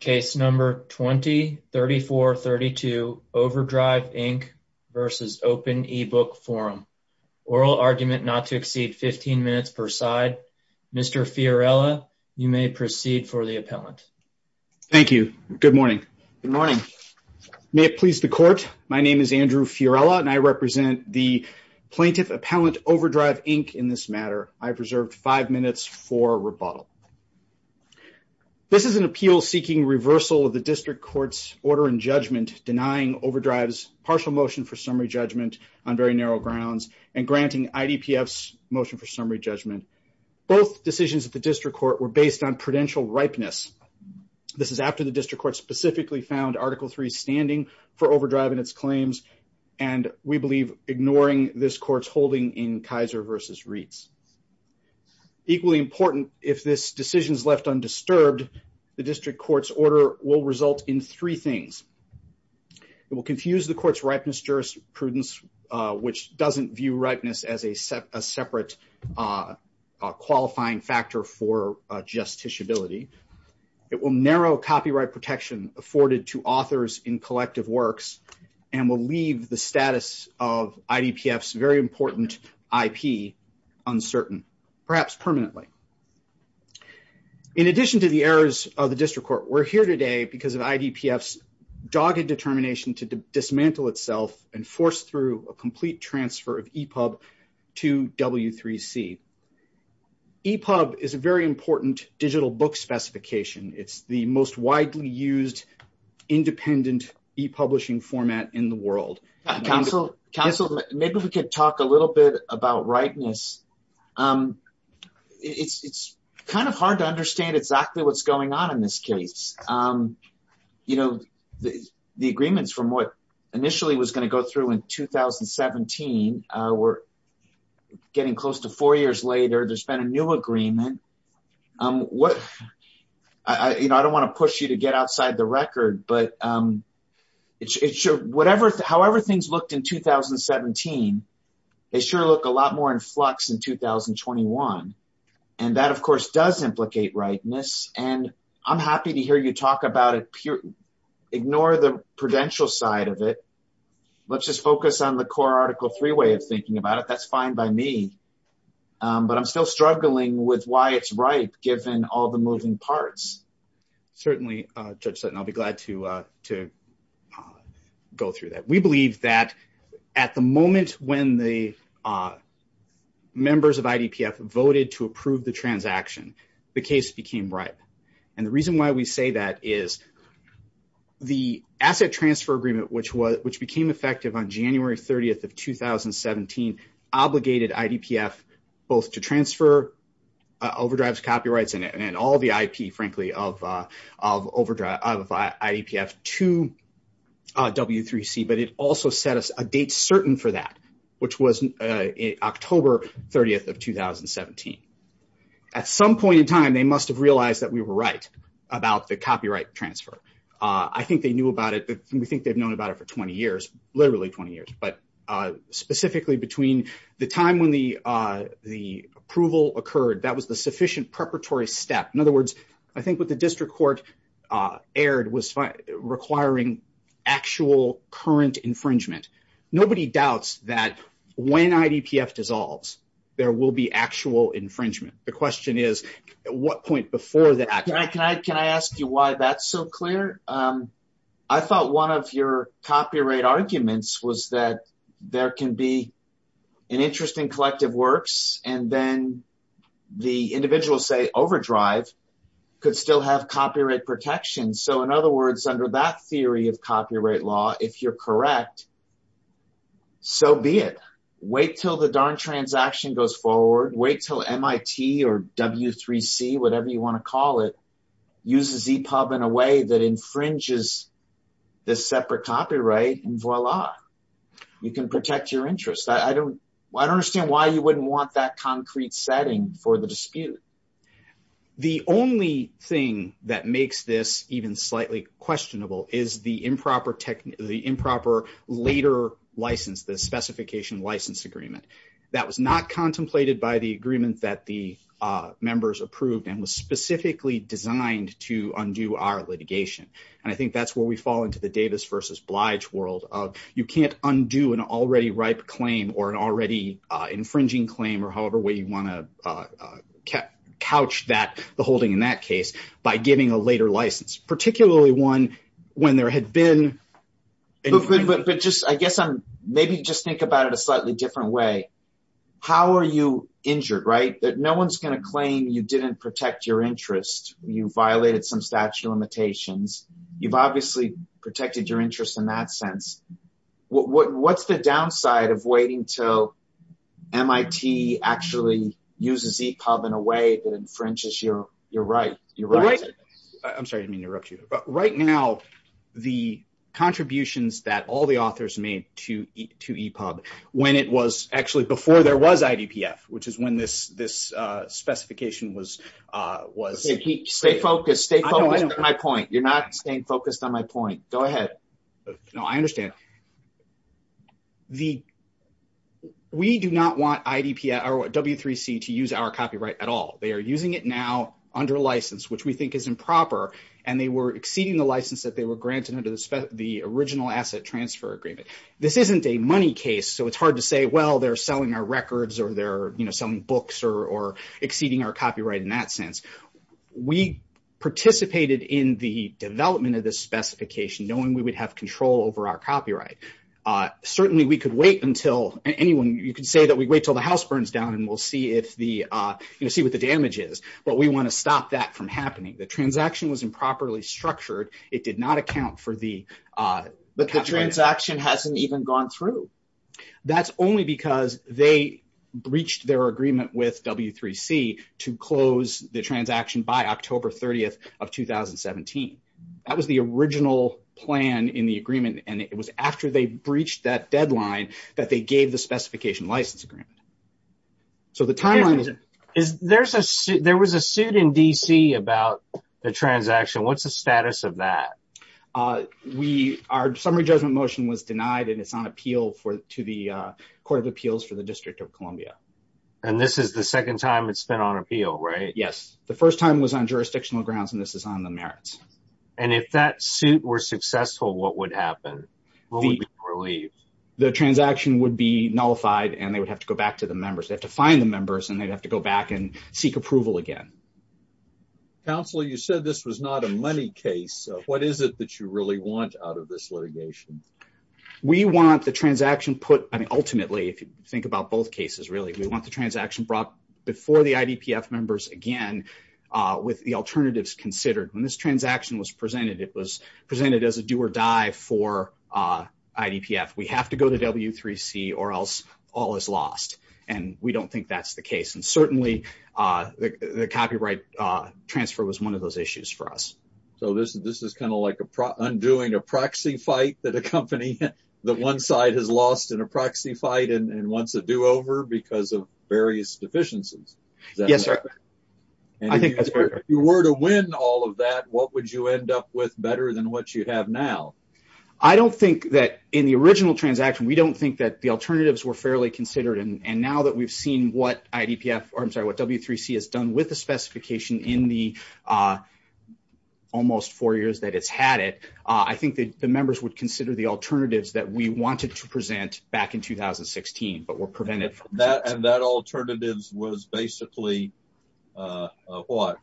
Case number 20-3432 OverDrive Inc v. Open eBook Forum. Oral argument not to exceed 15 minutes per side. Mr. Fiorella, you may proceed for the appellant. Thank you. Good morning. Good morning. May it please the court, my name is Andrew Fiorella and I represent the plaintiff appellant OverDrive Inc in this matter. I've reserved five minutes for rebuttal. This is an appeal seeking reversal of the district court's order in judgment denying OverDrive's partial motion for summary judgment on very narrow grounds and granting IDPF's motion for summary judgment. Both decisions at the district court were based on prudential ripeness. This is after the district court specifically found Article 3 standing for OverDrive in its claims and we believe ignoring this court's holding in Kaiser v. Reitz. Equally important, if this decision is left undisturbed, the district court's order will result in three things. It will confuse the court's ripeness jurisprudence, which doesn't view ripeness as a separate qualifying factor for justiciability. It will narrow copyright protection afforded to authors in collective works and will leave the status of IDPF's very perhaps permanently. In addition to the errors of the district court, we're here today because of IDPF's dogged determination to dismantle itself and force through a complete transfer of EPUB to W3C. EPUB is a very important digital book specification. It's the most widely used independent e-publishing format in the world. Counsel, maybe we could talk a little bit about ripeness. It's kind of hard to understand exactly what's going on in this case. The agreements from what initially was going to go through in 2017 were getting close to four years later. There's been a new agreement. I don't want to push you get outside the record. However things looked in 2017, they sure look a lot more in flux in 2021. That, of course, does implicate ripeness. I'm happy to hear you talk about it. Ignore the prudential side of it. Let's just focus on the core Article 3 way of thinking about it. That's fine by me, but I'm still struggling with why it's ripe given all the moving parts. Certainly, Judge Sutton, I'll be glad to go through that. We believe that at the moment when the members of IDPF voted to approve the transaction, the case became ripe. The reason why we say that is the asset transfer agreement, which became effective on January 30th of 2017, obligated IDPF both to transfer overdrives, copyrights, and all the IP, frankly, of IDPF to W3C, but it also set us a date certain for that, which was October 30th of 2017. At some point in time, they must have realized that we were right about the copyright transfer. I think they knew about it. We think they've known about it for 20 years, literally 20 years, but specifically between the time when the approval occurred, that was the sufficient preparatory step. In other words, I think what the district court aired was requiring actual current infringement. Nobody doubts that when IDPF dissolves, there will be actual infringement. The question is, at what point before that? Can I ask you why that's so clear? I thought one of your copyright arguments was that there can be an interest in collective works, and then the individuals say overdrive could still have copyright protection. In other words, under that theory of copyright law, if you're correct, so be it. Wait till the darn transaction goes forward. Wait till MIT or W3C, whatever you want to call it, uses EPUB in a way that infringes this separate copyright, and voila, you can protect your interest. I don't understand why you wouldn't want that concrete setting for the dispute. The only thing that makes this even slightly questionable is the improper later license, the specification license agreement. That was not contemplated by the agreement that the members approved and was specifically designed to undo our litigation. I think that's where we fall into the Davis versus Blige world of you can't undo an already ripe claim or an already infringing claim or however way you want to couch the holding in that case by giving a later license, particularly one when there had been- I guess maybe just think about it a slightly different way. How are you injured? No one's going to claim you didn't protect your interest. You violated some statute of limitations. You've obviously protected your interest in that sense. What's the downside of waiting till MIT actually uses EPUB in a way that infringes your rights? I'm sorry to interrupt you, but right now the contributions that all the authors made to EPUB, when it was actually before there was IDPF, which is when this specification was- Stay focused. Stay focused on my point. You're not staying focused on my point. Go ahead. No, I understand. We do not want W3C to use our copyright at all. They are using it now under license, which we think is improper, and they were exceeding the license that they were granted under the original asset transfer agreement. This isn't a money case, so it's selling our records or they're selling books or exceeding our copyright in that sense. We participated in the development of this specification knowing we would have control over our copyright. Certainly, we could wait until anyone- You could say that we wait till the house burns down and we'll see what the damage is, but we want to stop that from happening. The transaction was improperly structured. It did not account for the- The transaction hasn't even gone through. That's only because they breached their agreement with W3C to close the transaction by October 30th of 2017. That was the original plan in the agreement, and it was after they breached that deadline that they gave the specification license agreement. There was a suit in DC about the transaction. What's the status of that? We- Our summary judgment motion was denied, and it's on appeal to the Court of Appeals for the District of Columbia. This is the second time it's been on appeal, right? Yes. The first time was on jurisdictional grounds, and this is on the merits. If that suit were successful, what would happen? What would be the relief? The transaction would be nullified, and they would have to go back to the members. They have to find the members, and they'd have to go back and seek approval again. Counselor, you said this was not a money case. What is it that you really want out of this litigation? We want the transaction put- I mean, ultimately, if you think about both cases, really, we want the transaction brought before the IDPF members again with the alternatives considered. When this transaction was presented, it was presented as a do-or-die for IDPF. We have to go to W3C, or else all is lost, and we don't think that's the case. And certainly, the copyright transfer was one of those issues for us. So, this is kind of like undoing a proxy fight that a company- that one side has lost in a proxy fight and wants a do-over because of various deficiencies. Yes, sir. I think that's correct. If you were to win all of that, what would you end up with better than what you have now? I don't think that in the original transaction, we don't think that the alternatives were fairly considered. And now that we've seen what W3C has done with the specification in the almost four years that it's had it, I think that the members would consider the alternatives that we wanted to present back in 2016, but were prevented. And that alternatives was basically what?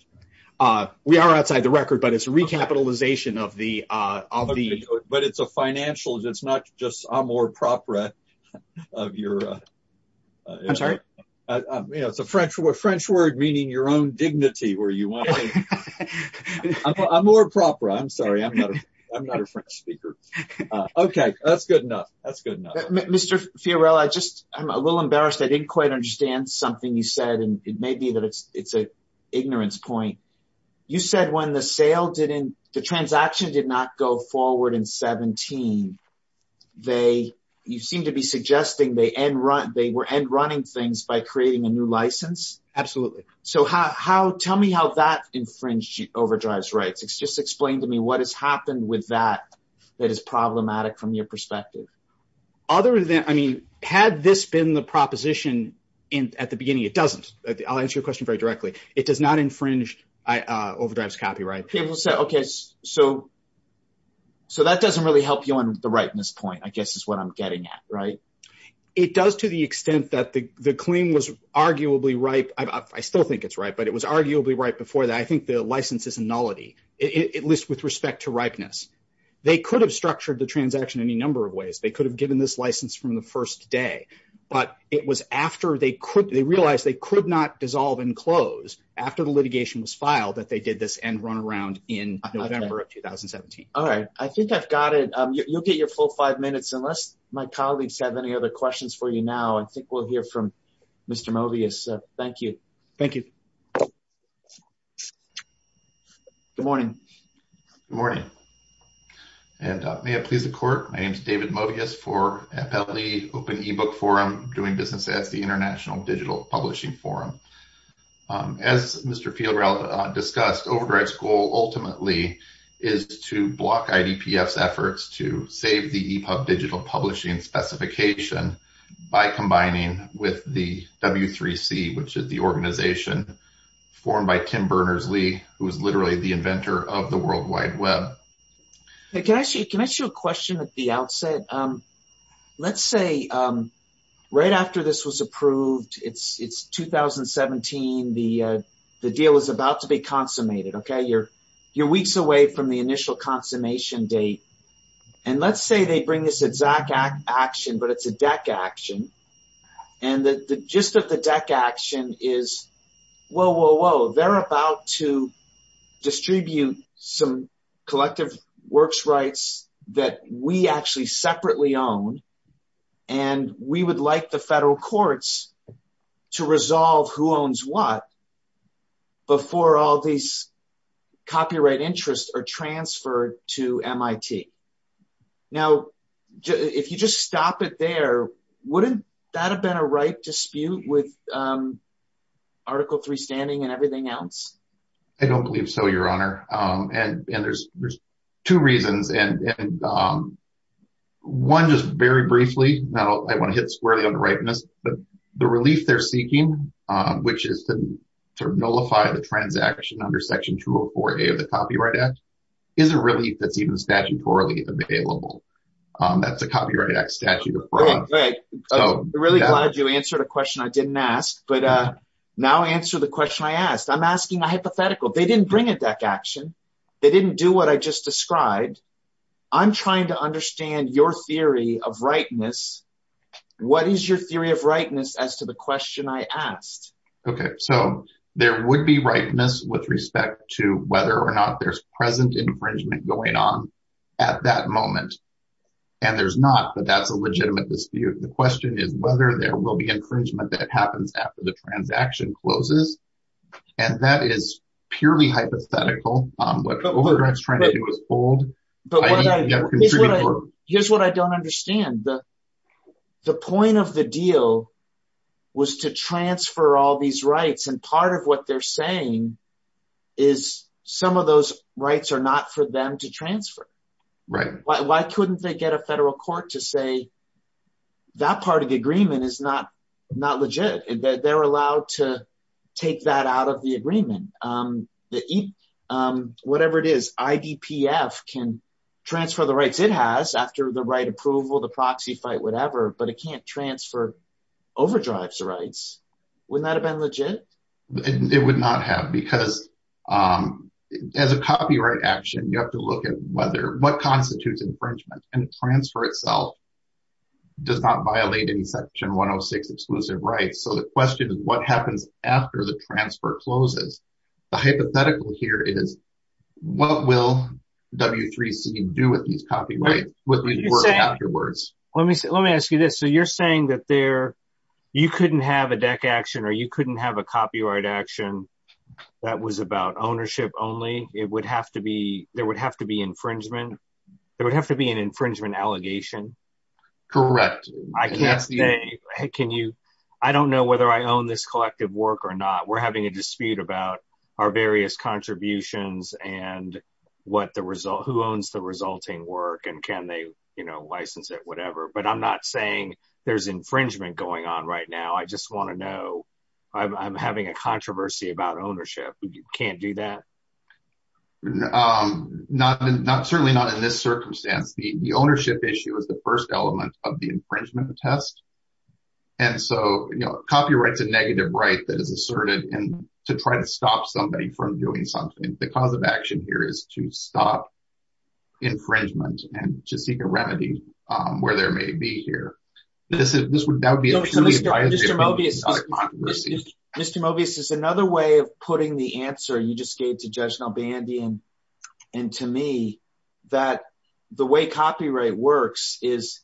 We are outside the record, but it's a recapitalization of the- But it's a financial- it's not just amour propre of your- I'm sorry? You know, it's a French word, meaning your own dignity, where you want to- amour propre. I'm sorry, I'm not a French speaker. Okay, that's good enough. That's good enough. Mr. Fiorello, I just- I'm a little embarrassed. I didn't quite understand something you said, and it may be that it's an ignorance point. You said when the sale didn't- the transaction did not go forward in 2017, they- you seem to be suggesting they end- they were end-running things by creating a new license? Absolutely. So how- tell me how that infringed Overdrive's rights. Just explain to me what has happened with that that is problematic from your perspective. Other than- I mean, had this been the proposition in- at the beginning, it doesn't. I'll answer your question very directly. It does not infringe Overdrive's copyright. People say, okay, so- so that doesn't really help you on the ripeness point, I guess is what I'm getting at, right? It does to the extent that the- the claim was arguably ripe. I still think it's ripe, but it was arguably ripe before that. I think the license is a nullity, at least with respect to they could have given this license from the first day, but it was after they could- they realized they could not dissolve and close after the litigation was filed that they did this end run around in November of 2017. All right. I think I've got it. You'll get your full five minutes unless my colleagues have any other questions for you now. I think we'll hear from Mr. Mobius. Thank you. Thank you. Good morning. Good morning. And may it please the court, my name is David Mobius for FLE Open Ebook Forum, Doing Business Ads, the International Digital Publishing Forum. As Mr. Fieldrell discussed, Overdrive's goal ultimately is to block IDPF's efforts to save the EPUB digital publishing specification by combining with the W3C, which is the organization formed by Tim Berners-Lee, who is literally the inventor of the World Wide Web. Hey, can I ask you a question at the outset? Let's say right after this was approved, it's 2017, the deal is about to be consummated, okay? You're weeks away from the initial consummation date. And let's say they bring this exact action, but it's a deck action. And the gist of the deck action is, whoa, whoa, whoa, they're about to distribute some collective works rights that we actually separately own. And we would like the federal courts to resolve who owns what before all these copyright interests are transferred to MIT. Now, if you just stop it there, wouldn't that have been a right dispute with Article 3 standing and everything else? I don't believe so, Your Honor. And there's two reasons. And one, just very briefly, now I want to hit squarely on the rightness, but the relief they're seeking, which is to nullify the transaction under Section 204A of the Copyright Act, is a relief that's even statutorily available. That's a Copyright Act statute of fraud. I'm really glad you answered a question I didn't ask, but now answer the question I asked. I'm asking a hypothetical. They didn't bring a deck action. They didn't do what I just described. I'm trying to understand your theory of rightness. What is your theory of rightness as to the question I asked? Okay, so there would be rightness with respect to whether or not there's present infringement going on at that moment. And there's not, but that's a legitimate dispute. The question is whether there will be infringement that happens after the transaction closes. And that is purely hypothetical. What Overdraft's trying to do is hold. Here's what I don't understand. The point of the deal was to transfer all these rights. And part of what they're saying is some of those rights are not for them to transfer. Why couldn't they get a federal court to say that part of the agreement is not legit, that they're allowed to take that out of the agreement? Whatever it is, IDPF can transfer the rights it has after the right approval, the proxy fight, whatever, but it can't transfer Overdrive's rights. Wouldn't that have been legit? It would not have because as a copyright action, you have to look at what constitutes infringement and transfer itself does not violate any section 106 exclusive rights. So the question is what happens after the transfer closes? The hypothetical here is what will W3C do with these copyrights? Let me ask you this. So you're saying that you couldn't have a DEC action or you it would have to be an infringement allegation? Correct. I don't know whether I own this collective work or not. We're having a dispute about our various contributions and who owns the resulting work and can they license it, whatever. But I'm not saying there's infringement going on right now. I just want to I'm having a controversy about ownership. You can't do that? Certainly not in this circumstance. The ownership issue is the first element of the infringement test. And so copyright is a negative right that is asserted and to try to stop somebody from doing something. The cause of action here is to stop infringement and to seek a remedy where there may be here. Mr. Mobius is another way of putting the answer you just gave to Judge Nalbandian and to me that the way copyright works is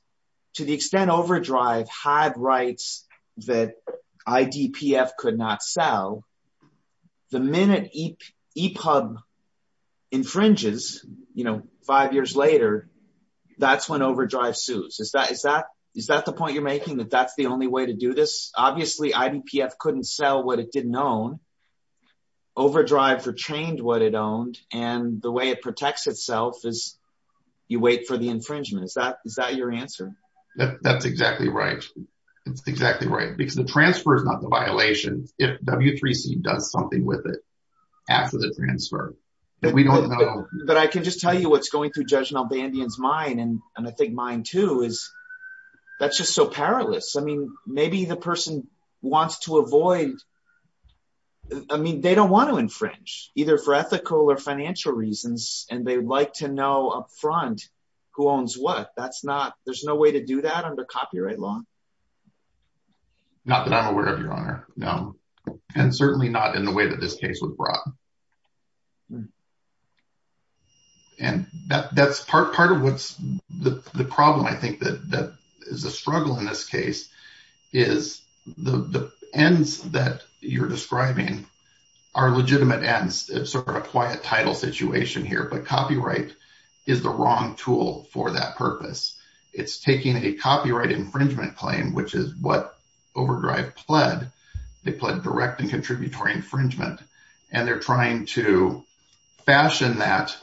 to the extent Overdrive had rights that IDPF could not sell, the minute EPUB infringes, you know, five years later, that's when Overdrive sues. Is that the point you're making that that's the only way to do this? Obviously, IDPF couldn't sell what it didn't own. Overdrive retained what it owned and the way it protects itself is you wait for the infringement. Is that your answer? That's exactly right. It's exactly right because the transfer is not the violation if W3C does something with it after the transfer. But I can just tell you what's going through Judge Nalbandian's mind, and I think mine too, is that's just so perilous. I mean, maybe the person wants to avoid, I mean, they don't want to infringe either for ethical or financial reasons, and they like to know upfront who owns what. That's not, there's no way to do that under copyright law. Not that I'm aware of, Your Honor. No, and certainly not in the way that this case was brought. And that's part of what's the problem, I think, that is a struggle in this case is the ends that you're describing are legitimate ends. It's sort of a quiet title situation here, but copyright is the wrong tool for that purpose. It's taking a copyright infringement claim, which is what Overdrive pled. They pled direct and contributory infringement, and they're trying to fashion that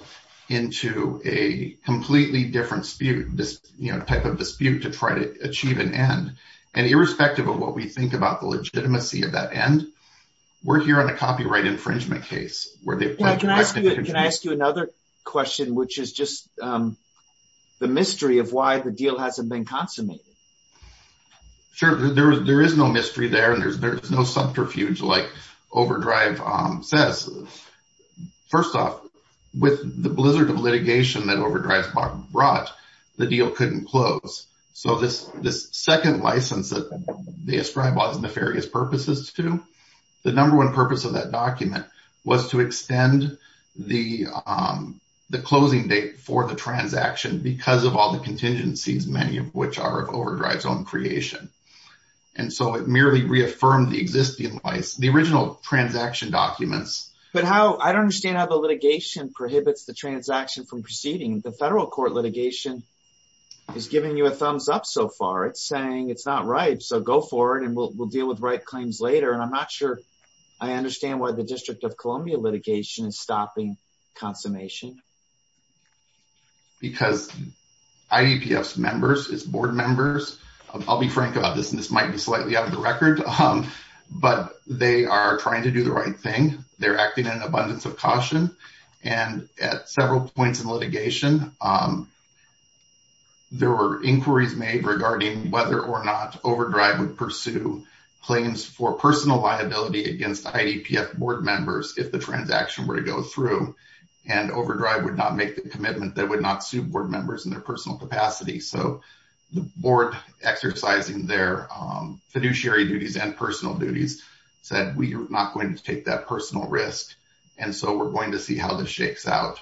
into a completely different dispute, this type of dispute to try to achieve an end. And irrespective of what we think about the legitimacy of that end, we're here on a copyright infringement case where they pled direct and contributory. Can I ask you another question, which is just the mystery of why the deal hasn't been consummated? Sure, there is no mystery there, and there's no subterfuge like Overdrive says. First off, with the blizzard of litigation that Overdrive brought, the deal couldn't close. So this second license that they ascribe all these nefarious purposes to, the number one purpose of that document was to extend the closing date for the transaction because of all the contingencies, many of which are of Overdrive's own creation. And so it merely reaffirmed the existing license, the original transaction documents. But how, I don't understand how the litigation prohibits the transaction from proceeding. The federal court litigation is giving you a thumbs up so far. It's saying it's not right, so go forward and we'll deal with right claims later. And I'm not sure I understand why the District of Columbia litigation is stopping consummation. Because IDPF's members, its board members, I'll be frank about this, and this might be slightly out of the record, but they are trying to do the right thing. They're acting in abundance of caution. And at several points in litigation, there were inquiries made regarding whether or not Overdrive would pursue claims for personal liability against IDPF board members if the would not make the commitment that would not sue board members in their personal capacity. So the board exercising their fiduciary duties and personal duties said we are not going to take that personal risk. And so we're going to see how this shakes out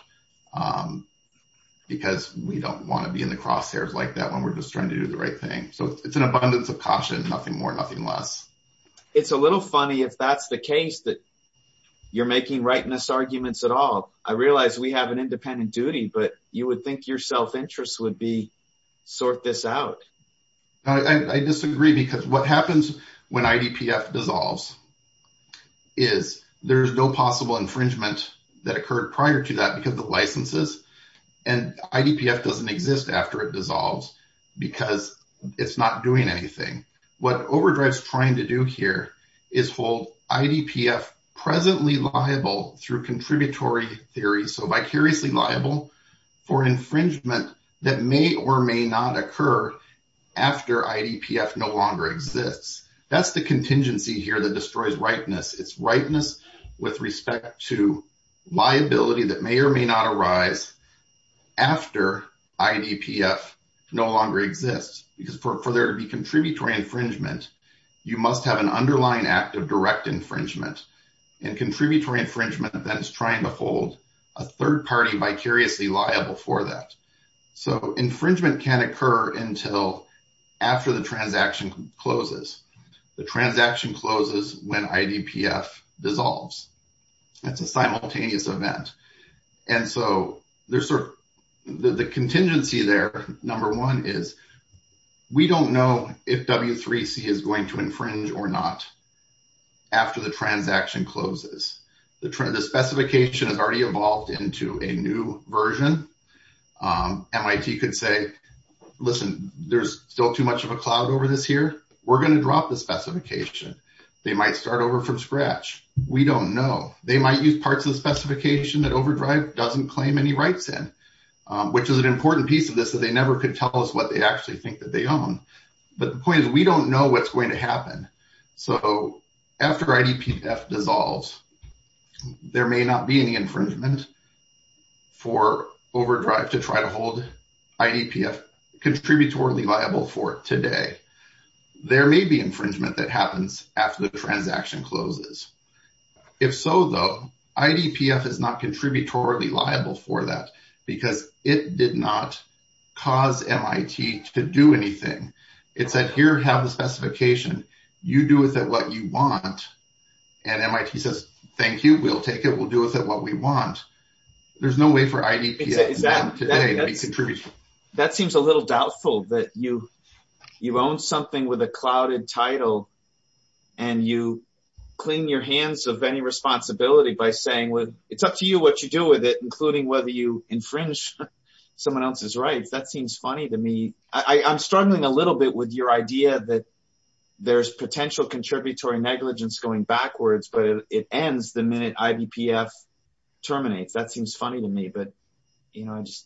because we don't want to be in the crosshairs like that when we're just trying to do the right thing. So it's an abundance of caution, nothing more, nothing less. It's a little funny if that's the case that you're making rightness at all. I realize we have an independent duty, but you would think your self-interest would be sort this out. I disagree because what happens when IDPF dissolves is there's no possible infringement that occurred prior to that because of licenses. And IDPF doesn't exist after it dissolves because it's not doing anything. What Overdrive is trying to do here is hold IDPF presently liable through contributory theories, so vicariously liable for infringement that may or may not occur after IDPF no longer exists. That's the contingency here that destroys rightness. It's rightness with respect to liability that may or may not arise after IDPF no longer exists because for there to be contributory infringement, you must have an underlying act of direct infringement and contributory infringement that is trying to hold a third party vicariously liable for that. So infringement can occur until after the transaction closes. The transaction closes when IDPF dissolves. That's a simultaneous event. And so there's sort of the contingency there. Number one is we don't know if W3C is going to infringe or not after the transaction closes. The specification has already evolved into a new version. MIT could say, listen, there's still too much of a cloud over this here. We're going to drop the specification. They might start over from scratch. We don't know. They might use the specification that OverDrive doesn't claim any rights in, which is an important piece of this that they never could tell us what they actually think that they own. But the point is we don't know what's going to happen. So after IDPF dissolves, there may not be any infringement for OverDrive to try to hold IDPF contributory liable for it today. There may be infringement that happens after the transaction closes. If so, though, IDPF is not contributory liable for that because it did not cause MIT to do anything. It said, here, have the specification. You do with it what you want. And MIT says, thank you. We'll take it. We'll do with it what we want. There's no way for IDPF today to be contributory. That seems a little doubtful that you own something with a clouded title and you cling your hands of any responsibility by saying, it's up to you what you do with it, including whether you infringe someone else's rights. That seems funny to me. I'm struggling a little bit with your idea that there's potential contributory negligence going backwards, but it ends the minute IDPF terminates. That seems funny to me. There's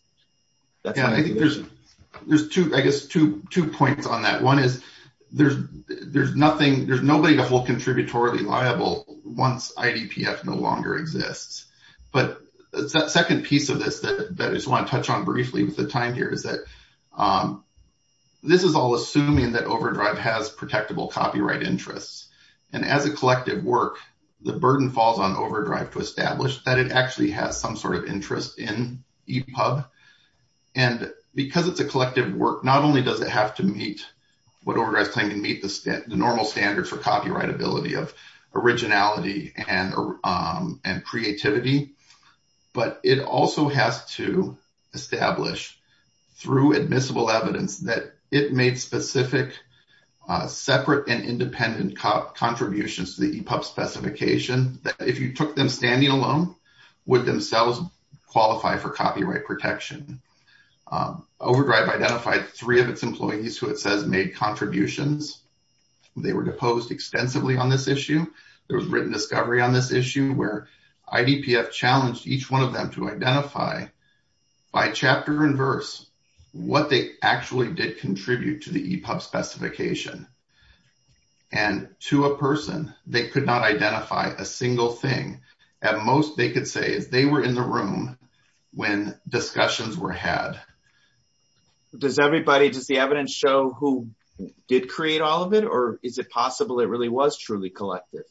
two points on that. One is there's nobody to hold contributory liable once IDPF no longer exists. But the second piece of this that I just want to touch on briefly with the time here is that this is all assuming that OverDrive has protectable copyright interests. And as a collective work, the burden falls on OverDrive to establish that it actually has some interest in EPUB. And because it's a collective work, not only does it have to meet what OverDrive is claiming to meet the normal standards for copyright ability of originality and creativity, but it also has to establish through admissible evidence that it made specific, separate and independent contributions to the EPUB specification that if you took them standing alone would themselves qualify for copyright protection. OverDrive identified three of its employees who it says made contributions. They were deposed extensively on this issue. There was written discovery on this issue where IDPF challenged each one of them to identify by chapter and verse what they actually did contribute to the EPUB specification. And to a person, they could not identify a single thing. At most, they could say they were in the room when discussions were had. Does everybody, does the evidence show who did create all of it? Or is it possible it really was truly collective?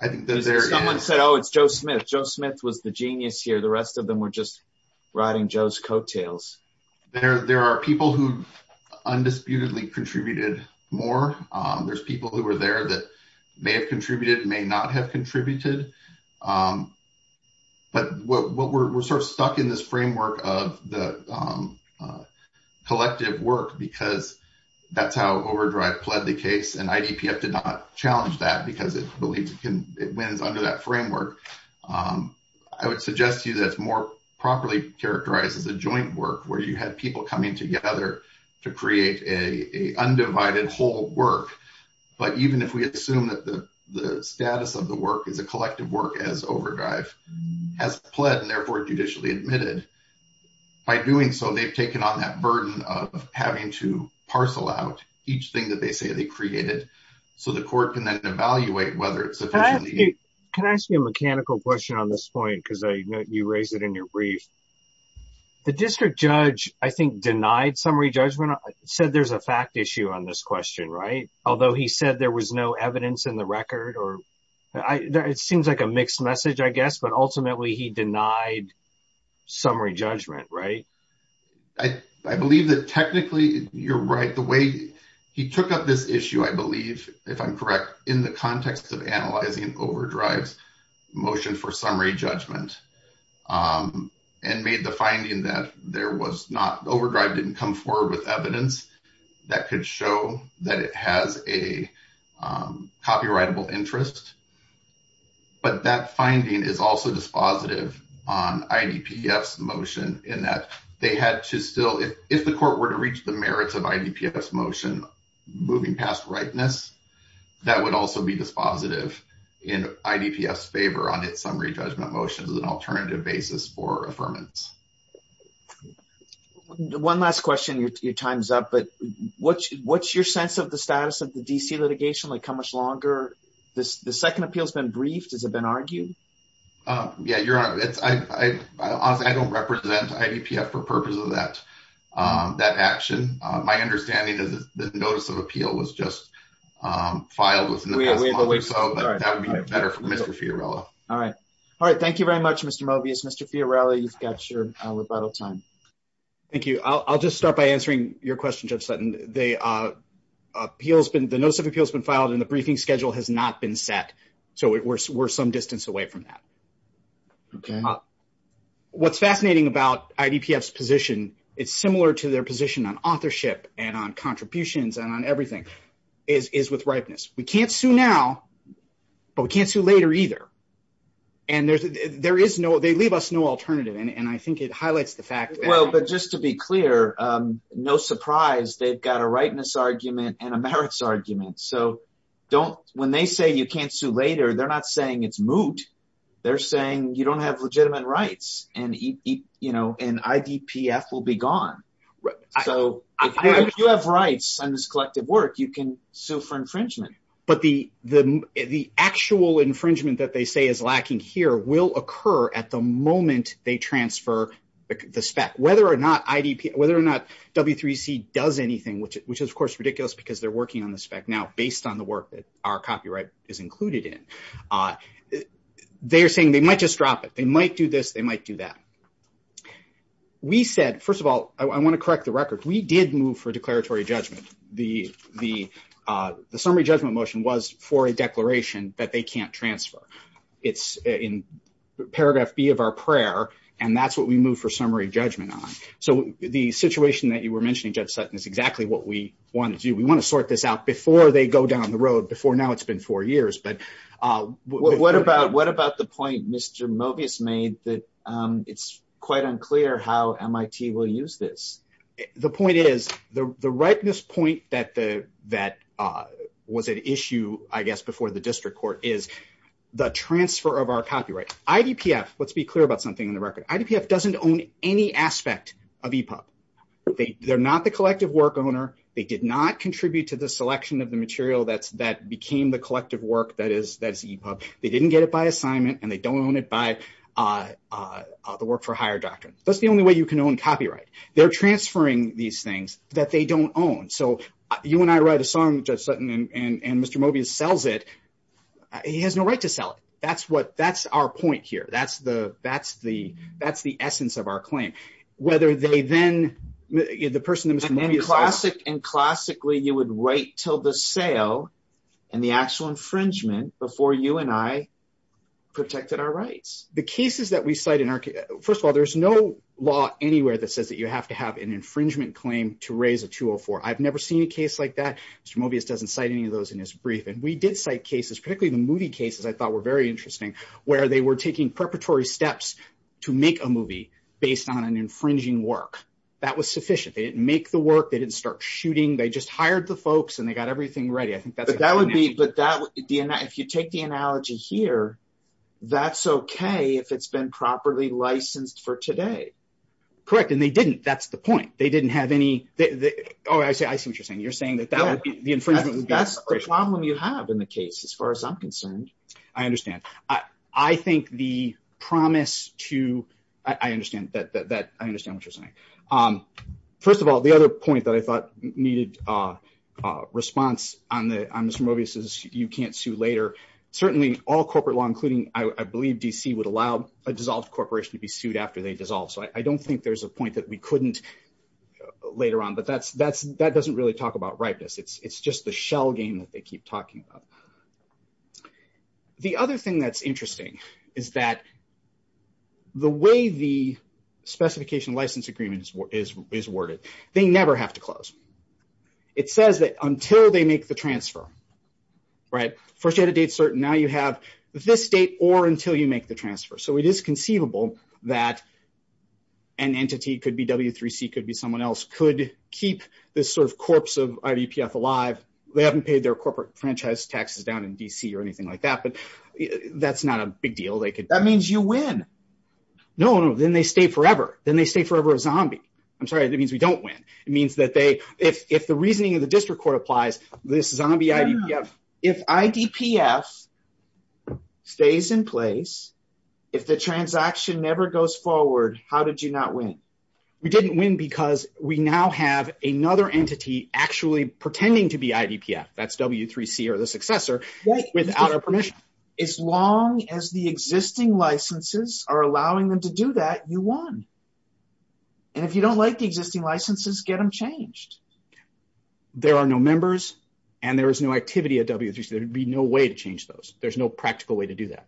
I think that there is. Someone said, oh, it's Joe Smith. Joe Smith was the genius here. The rest of them were just riding Joe's coattails. There are people who undisputedly contributed more. There's people who were there that may have contributed, may not have contributed. But we're sort of stuck in this framework of the collective work because that's how OverDrive pled the case and IDPF did not challenge that because it believes it wins under that framework. I would suggest to you that's more properly characterized as a joint work where you had people coming together to create an undivided whole work. But even if we assume that the status of the work is a collective work as OverDrive has pled and therefore judicially admitted, by doing so, they've taken on that burden of having to parcel out each thing that they say they created so the court can then evaluate whether it's sufficient. Can I ask you a mechanical question on this point because you raised it in your brief. The district judge, I think, denied summary judgment, said there's a fact issue on this question, right? Although he said there was no evidence in the record. It seems like a mixed message, I guess, but ultimately he denied summary judgment, right? I believe that technically you're right. The way he took up this issue, I believe, if I'm correct, in the context of analyzing OverDrive's motion for summary judgment and made the finding that there was not, OverDrive didn't come forward with evidence that could show that it has a copyrightable interest. But that finding is also dispositive on IDPF's motion in that they had to still, if the court were to reach the merits of IDPF's motion moving past ripeness, that would also be dispositive in IDPF's favor on its summary judgment motion as an alternative basis for affirmance. One last question, your time's up, but what's your sense of the status of the D.C. litigation? Like, how much longer the second appeal's been briefed? Has it been argued? Yeah, you're right. Honestly, I don't represent IDPF for purpose of that action. My understanding is that the notice of appeal was just filed within the past month or so, but that would be better for Mr. Fiorello. All right. Thank you very much, Mr. Mobius. Mr. Fiorello, you've got your rebuttal time. Thank you. I'll just start by answering your question, Judge Sutton. The notice of appeal has been filed and the briefing schedule has not been set, so we're some distance away from that. Okay. What's fascinating about IDPF's position, it's similar to their position on authorship and on contributions and on everything, is with ripeness. We can't sue now, but we can't sue later either, and there is no, they leave us no alternative, and I think it highlights the fact that- Well, but just to be clear, no surprise, they've got a ripeness argument and a merits argument, so don't, when they say you can't sue later, they're not saying it's moot. They're saying you don't have legitimate rights and IDPF will be gone. So if you have rights on this collective work, you can sue for infringement. But the actual infringement that they say is lacking here will occur at the moment they transfer the spec, whether or not W3C does anything, which is, of course, ridiculous because they're working on the spec now based on the work our copyright is included in. They're saying they might just drop it. They might do this, they might do that. We said, first of all, I want to correct the record. We did move for declaratory judgment. The summary judgment motion was for a declaration that they can't transfer. It's in paragraph B of our prayer, and that's what we move for summary judgment on. So the situation that you were mentioning, Judge Sutton, is exactly what we want to do. We want to sort this before they go down the road. Before now, it's been four years. But what about the point Mr. Mobius made that it's quite unclear how MIT will use this? The point is, the rightness point that was at issue, I guess, before the district court is the transfer of our copyright. IDPF, let's be clear about something in the record. IDPF doesn't own any aspect of EPUB. They're not the collective work owner. They did not contribute to the selection of the material that became the collective work that is EPUB. They didn't get it by assignment, and they don't own it by the work for hire doctrine. That's the only way you can own copyright. They're transferring these things that they don't own. So you and I write a song, Judge Sutton, and Mr. Mobius sells it. He has no right to sell it. That's our point here. That's the essence of our claim. And classically, you would wait till the sale and the actual infringement before you and I protected our rights. First of all, there's no law anywhere that says that you have to have an infringement claim to raise a 204. I've never seen a case like that. Mr. Mobius doesn't cite any of those in his brief. And we did cite cases, particularly the movie cases I thought were very interesting, where they were taking preparatory steps to make a movie based on an infringing work. That was sufficient. They didn't make the work. They didn't start shooting. They just hired the folks, and they got everything ready. If you take the analogy here, that's okay if it's been properly licensed for today. Correct. And they didn't. That's the point. I see what you're saying. You're saying that that would be the infringement. That's the problem you have in the case as far as I'm concerned. I understand. I think the promise to... I understand what you're saying. First of all, the other point that I thought needed a response on Mr. Mobius is you can't sue later. Certainly all corporate law, including I believe DC, would allow a dissolved corporation to be sued after they dissolve. So I don't think there's a point that we couldn't later on, but that doesn't really talk about ripeness. It's just the shell game that they keep talking about. The other thing that's interesting is that the way the specification license agreement is worded, they never have to close. It says that until they make the transfer. First you had a date certain. Now you have this date or until you make the transfer. So it is conceivable that an entity, could be W3C, could be someone else, could keep this corpse of IDPF alive. They haven't paid their corporate franchise taxes down in DC or anything like that, but that's not a big deal. That means you win. No, no. Then they stay forever. Then they stay forever a zombie. I'm sorry. That means we don't win. It means that if the reasoning of the district court applies, this zombie IDPF... If IDPF stays in place, if the transaction never goes forward, how did you not win? We didn't win because we now have another entity actually pretending to be IDPF. That's W3C or the successor without our permission. As long as the existing licenses are allowing them to do that, you won. And if you don't like the existing licenses, get them changed. There are no members and there is no activity at W3C. There'd be no way to change those. There's no practical way to do that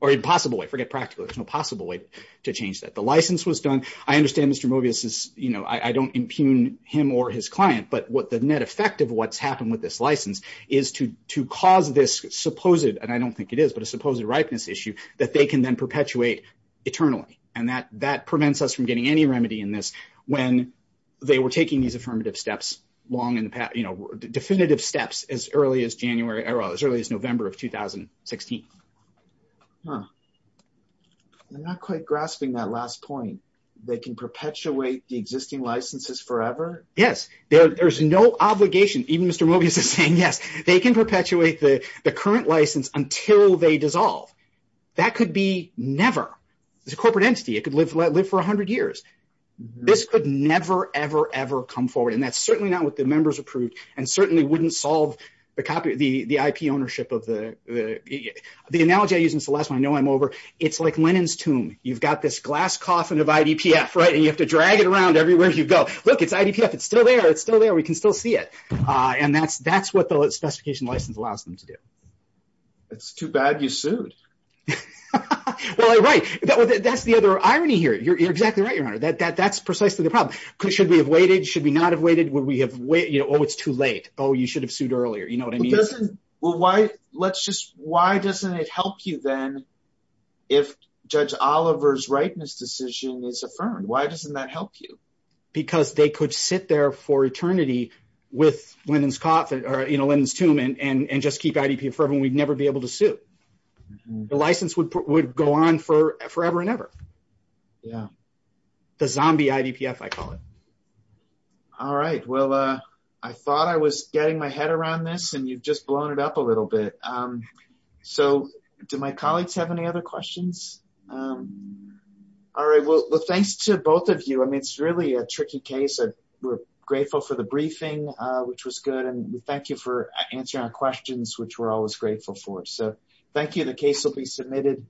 or impossible way. Forget practical. There's no possible way to change that. The license was done. I understand Mr. Mobius is... I don't impugn him or his client, but what the net effect of what's happened with this license is to cause this supposed, and I don't think it is, but a supposed ripeness issue that they can then perpetuate eternally. And that prevents us from getting any remedy in this when they were taking these affirmative steps long in the past, definitive steps as early as November of 2016. Huh. I'm not quite grasping that last point. They can perpetuate the existing licenses forever? Yes. There's no obligation. Even Mr. Mobius is saying, yes, they can perpetuate the current license until they dissolve. That could be never. It's a corporate entity. It could live for 100 years. This could never, ever, ever come forward. And that's certainly not what the members approved and certainly wouldn't solve the IP ownership of the... The analogy I use since the last one, I know I'm over. It's like Lenin's tomb. You've got this glass coffin of IDPF, right? And you have to drag it around everywhere you go. Look, it's IDPF. It's still there. It's still there. We can still see it. And that's what the specification license allows them to do. It's too bad you sued. Well, right. That's the other irony here. You're exactly right, Your Honor. That's precisely the oh, it's too late. Oh, you should have sued earlier. You know what I mean? Why doesn't it help you then if Judge Oliver's rightness decision is affirmed? Why doesn't that help you? Because they could sit there for eternity with Lenin's coffin or Lenin's tomb and just keep IDPF forever and we'd never be able to sue. The license would go on forever and ever. Yeah. The zombie IDPF, I call it. All right. Well, I thought I was getting my head around this and you've just blown it up a little bit. So do my colleagues have any other questions? All right. Well, thanks to both of you. I mean, it's really a tricky case. We're grateful for the briefing, which was good. And thank you for answering our questions, which we're always grateful for. So thank you. The case will be submitted.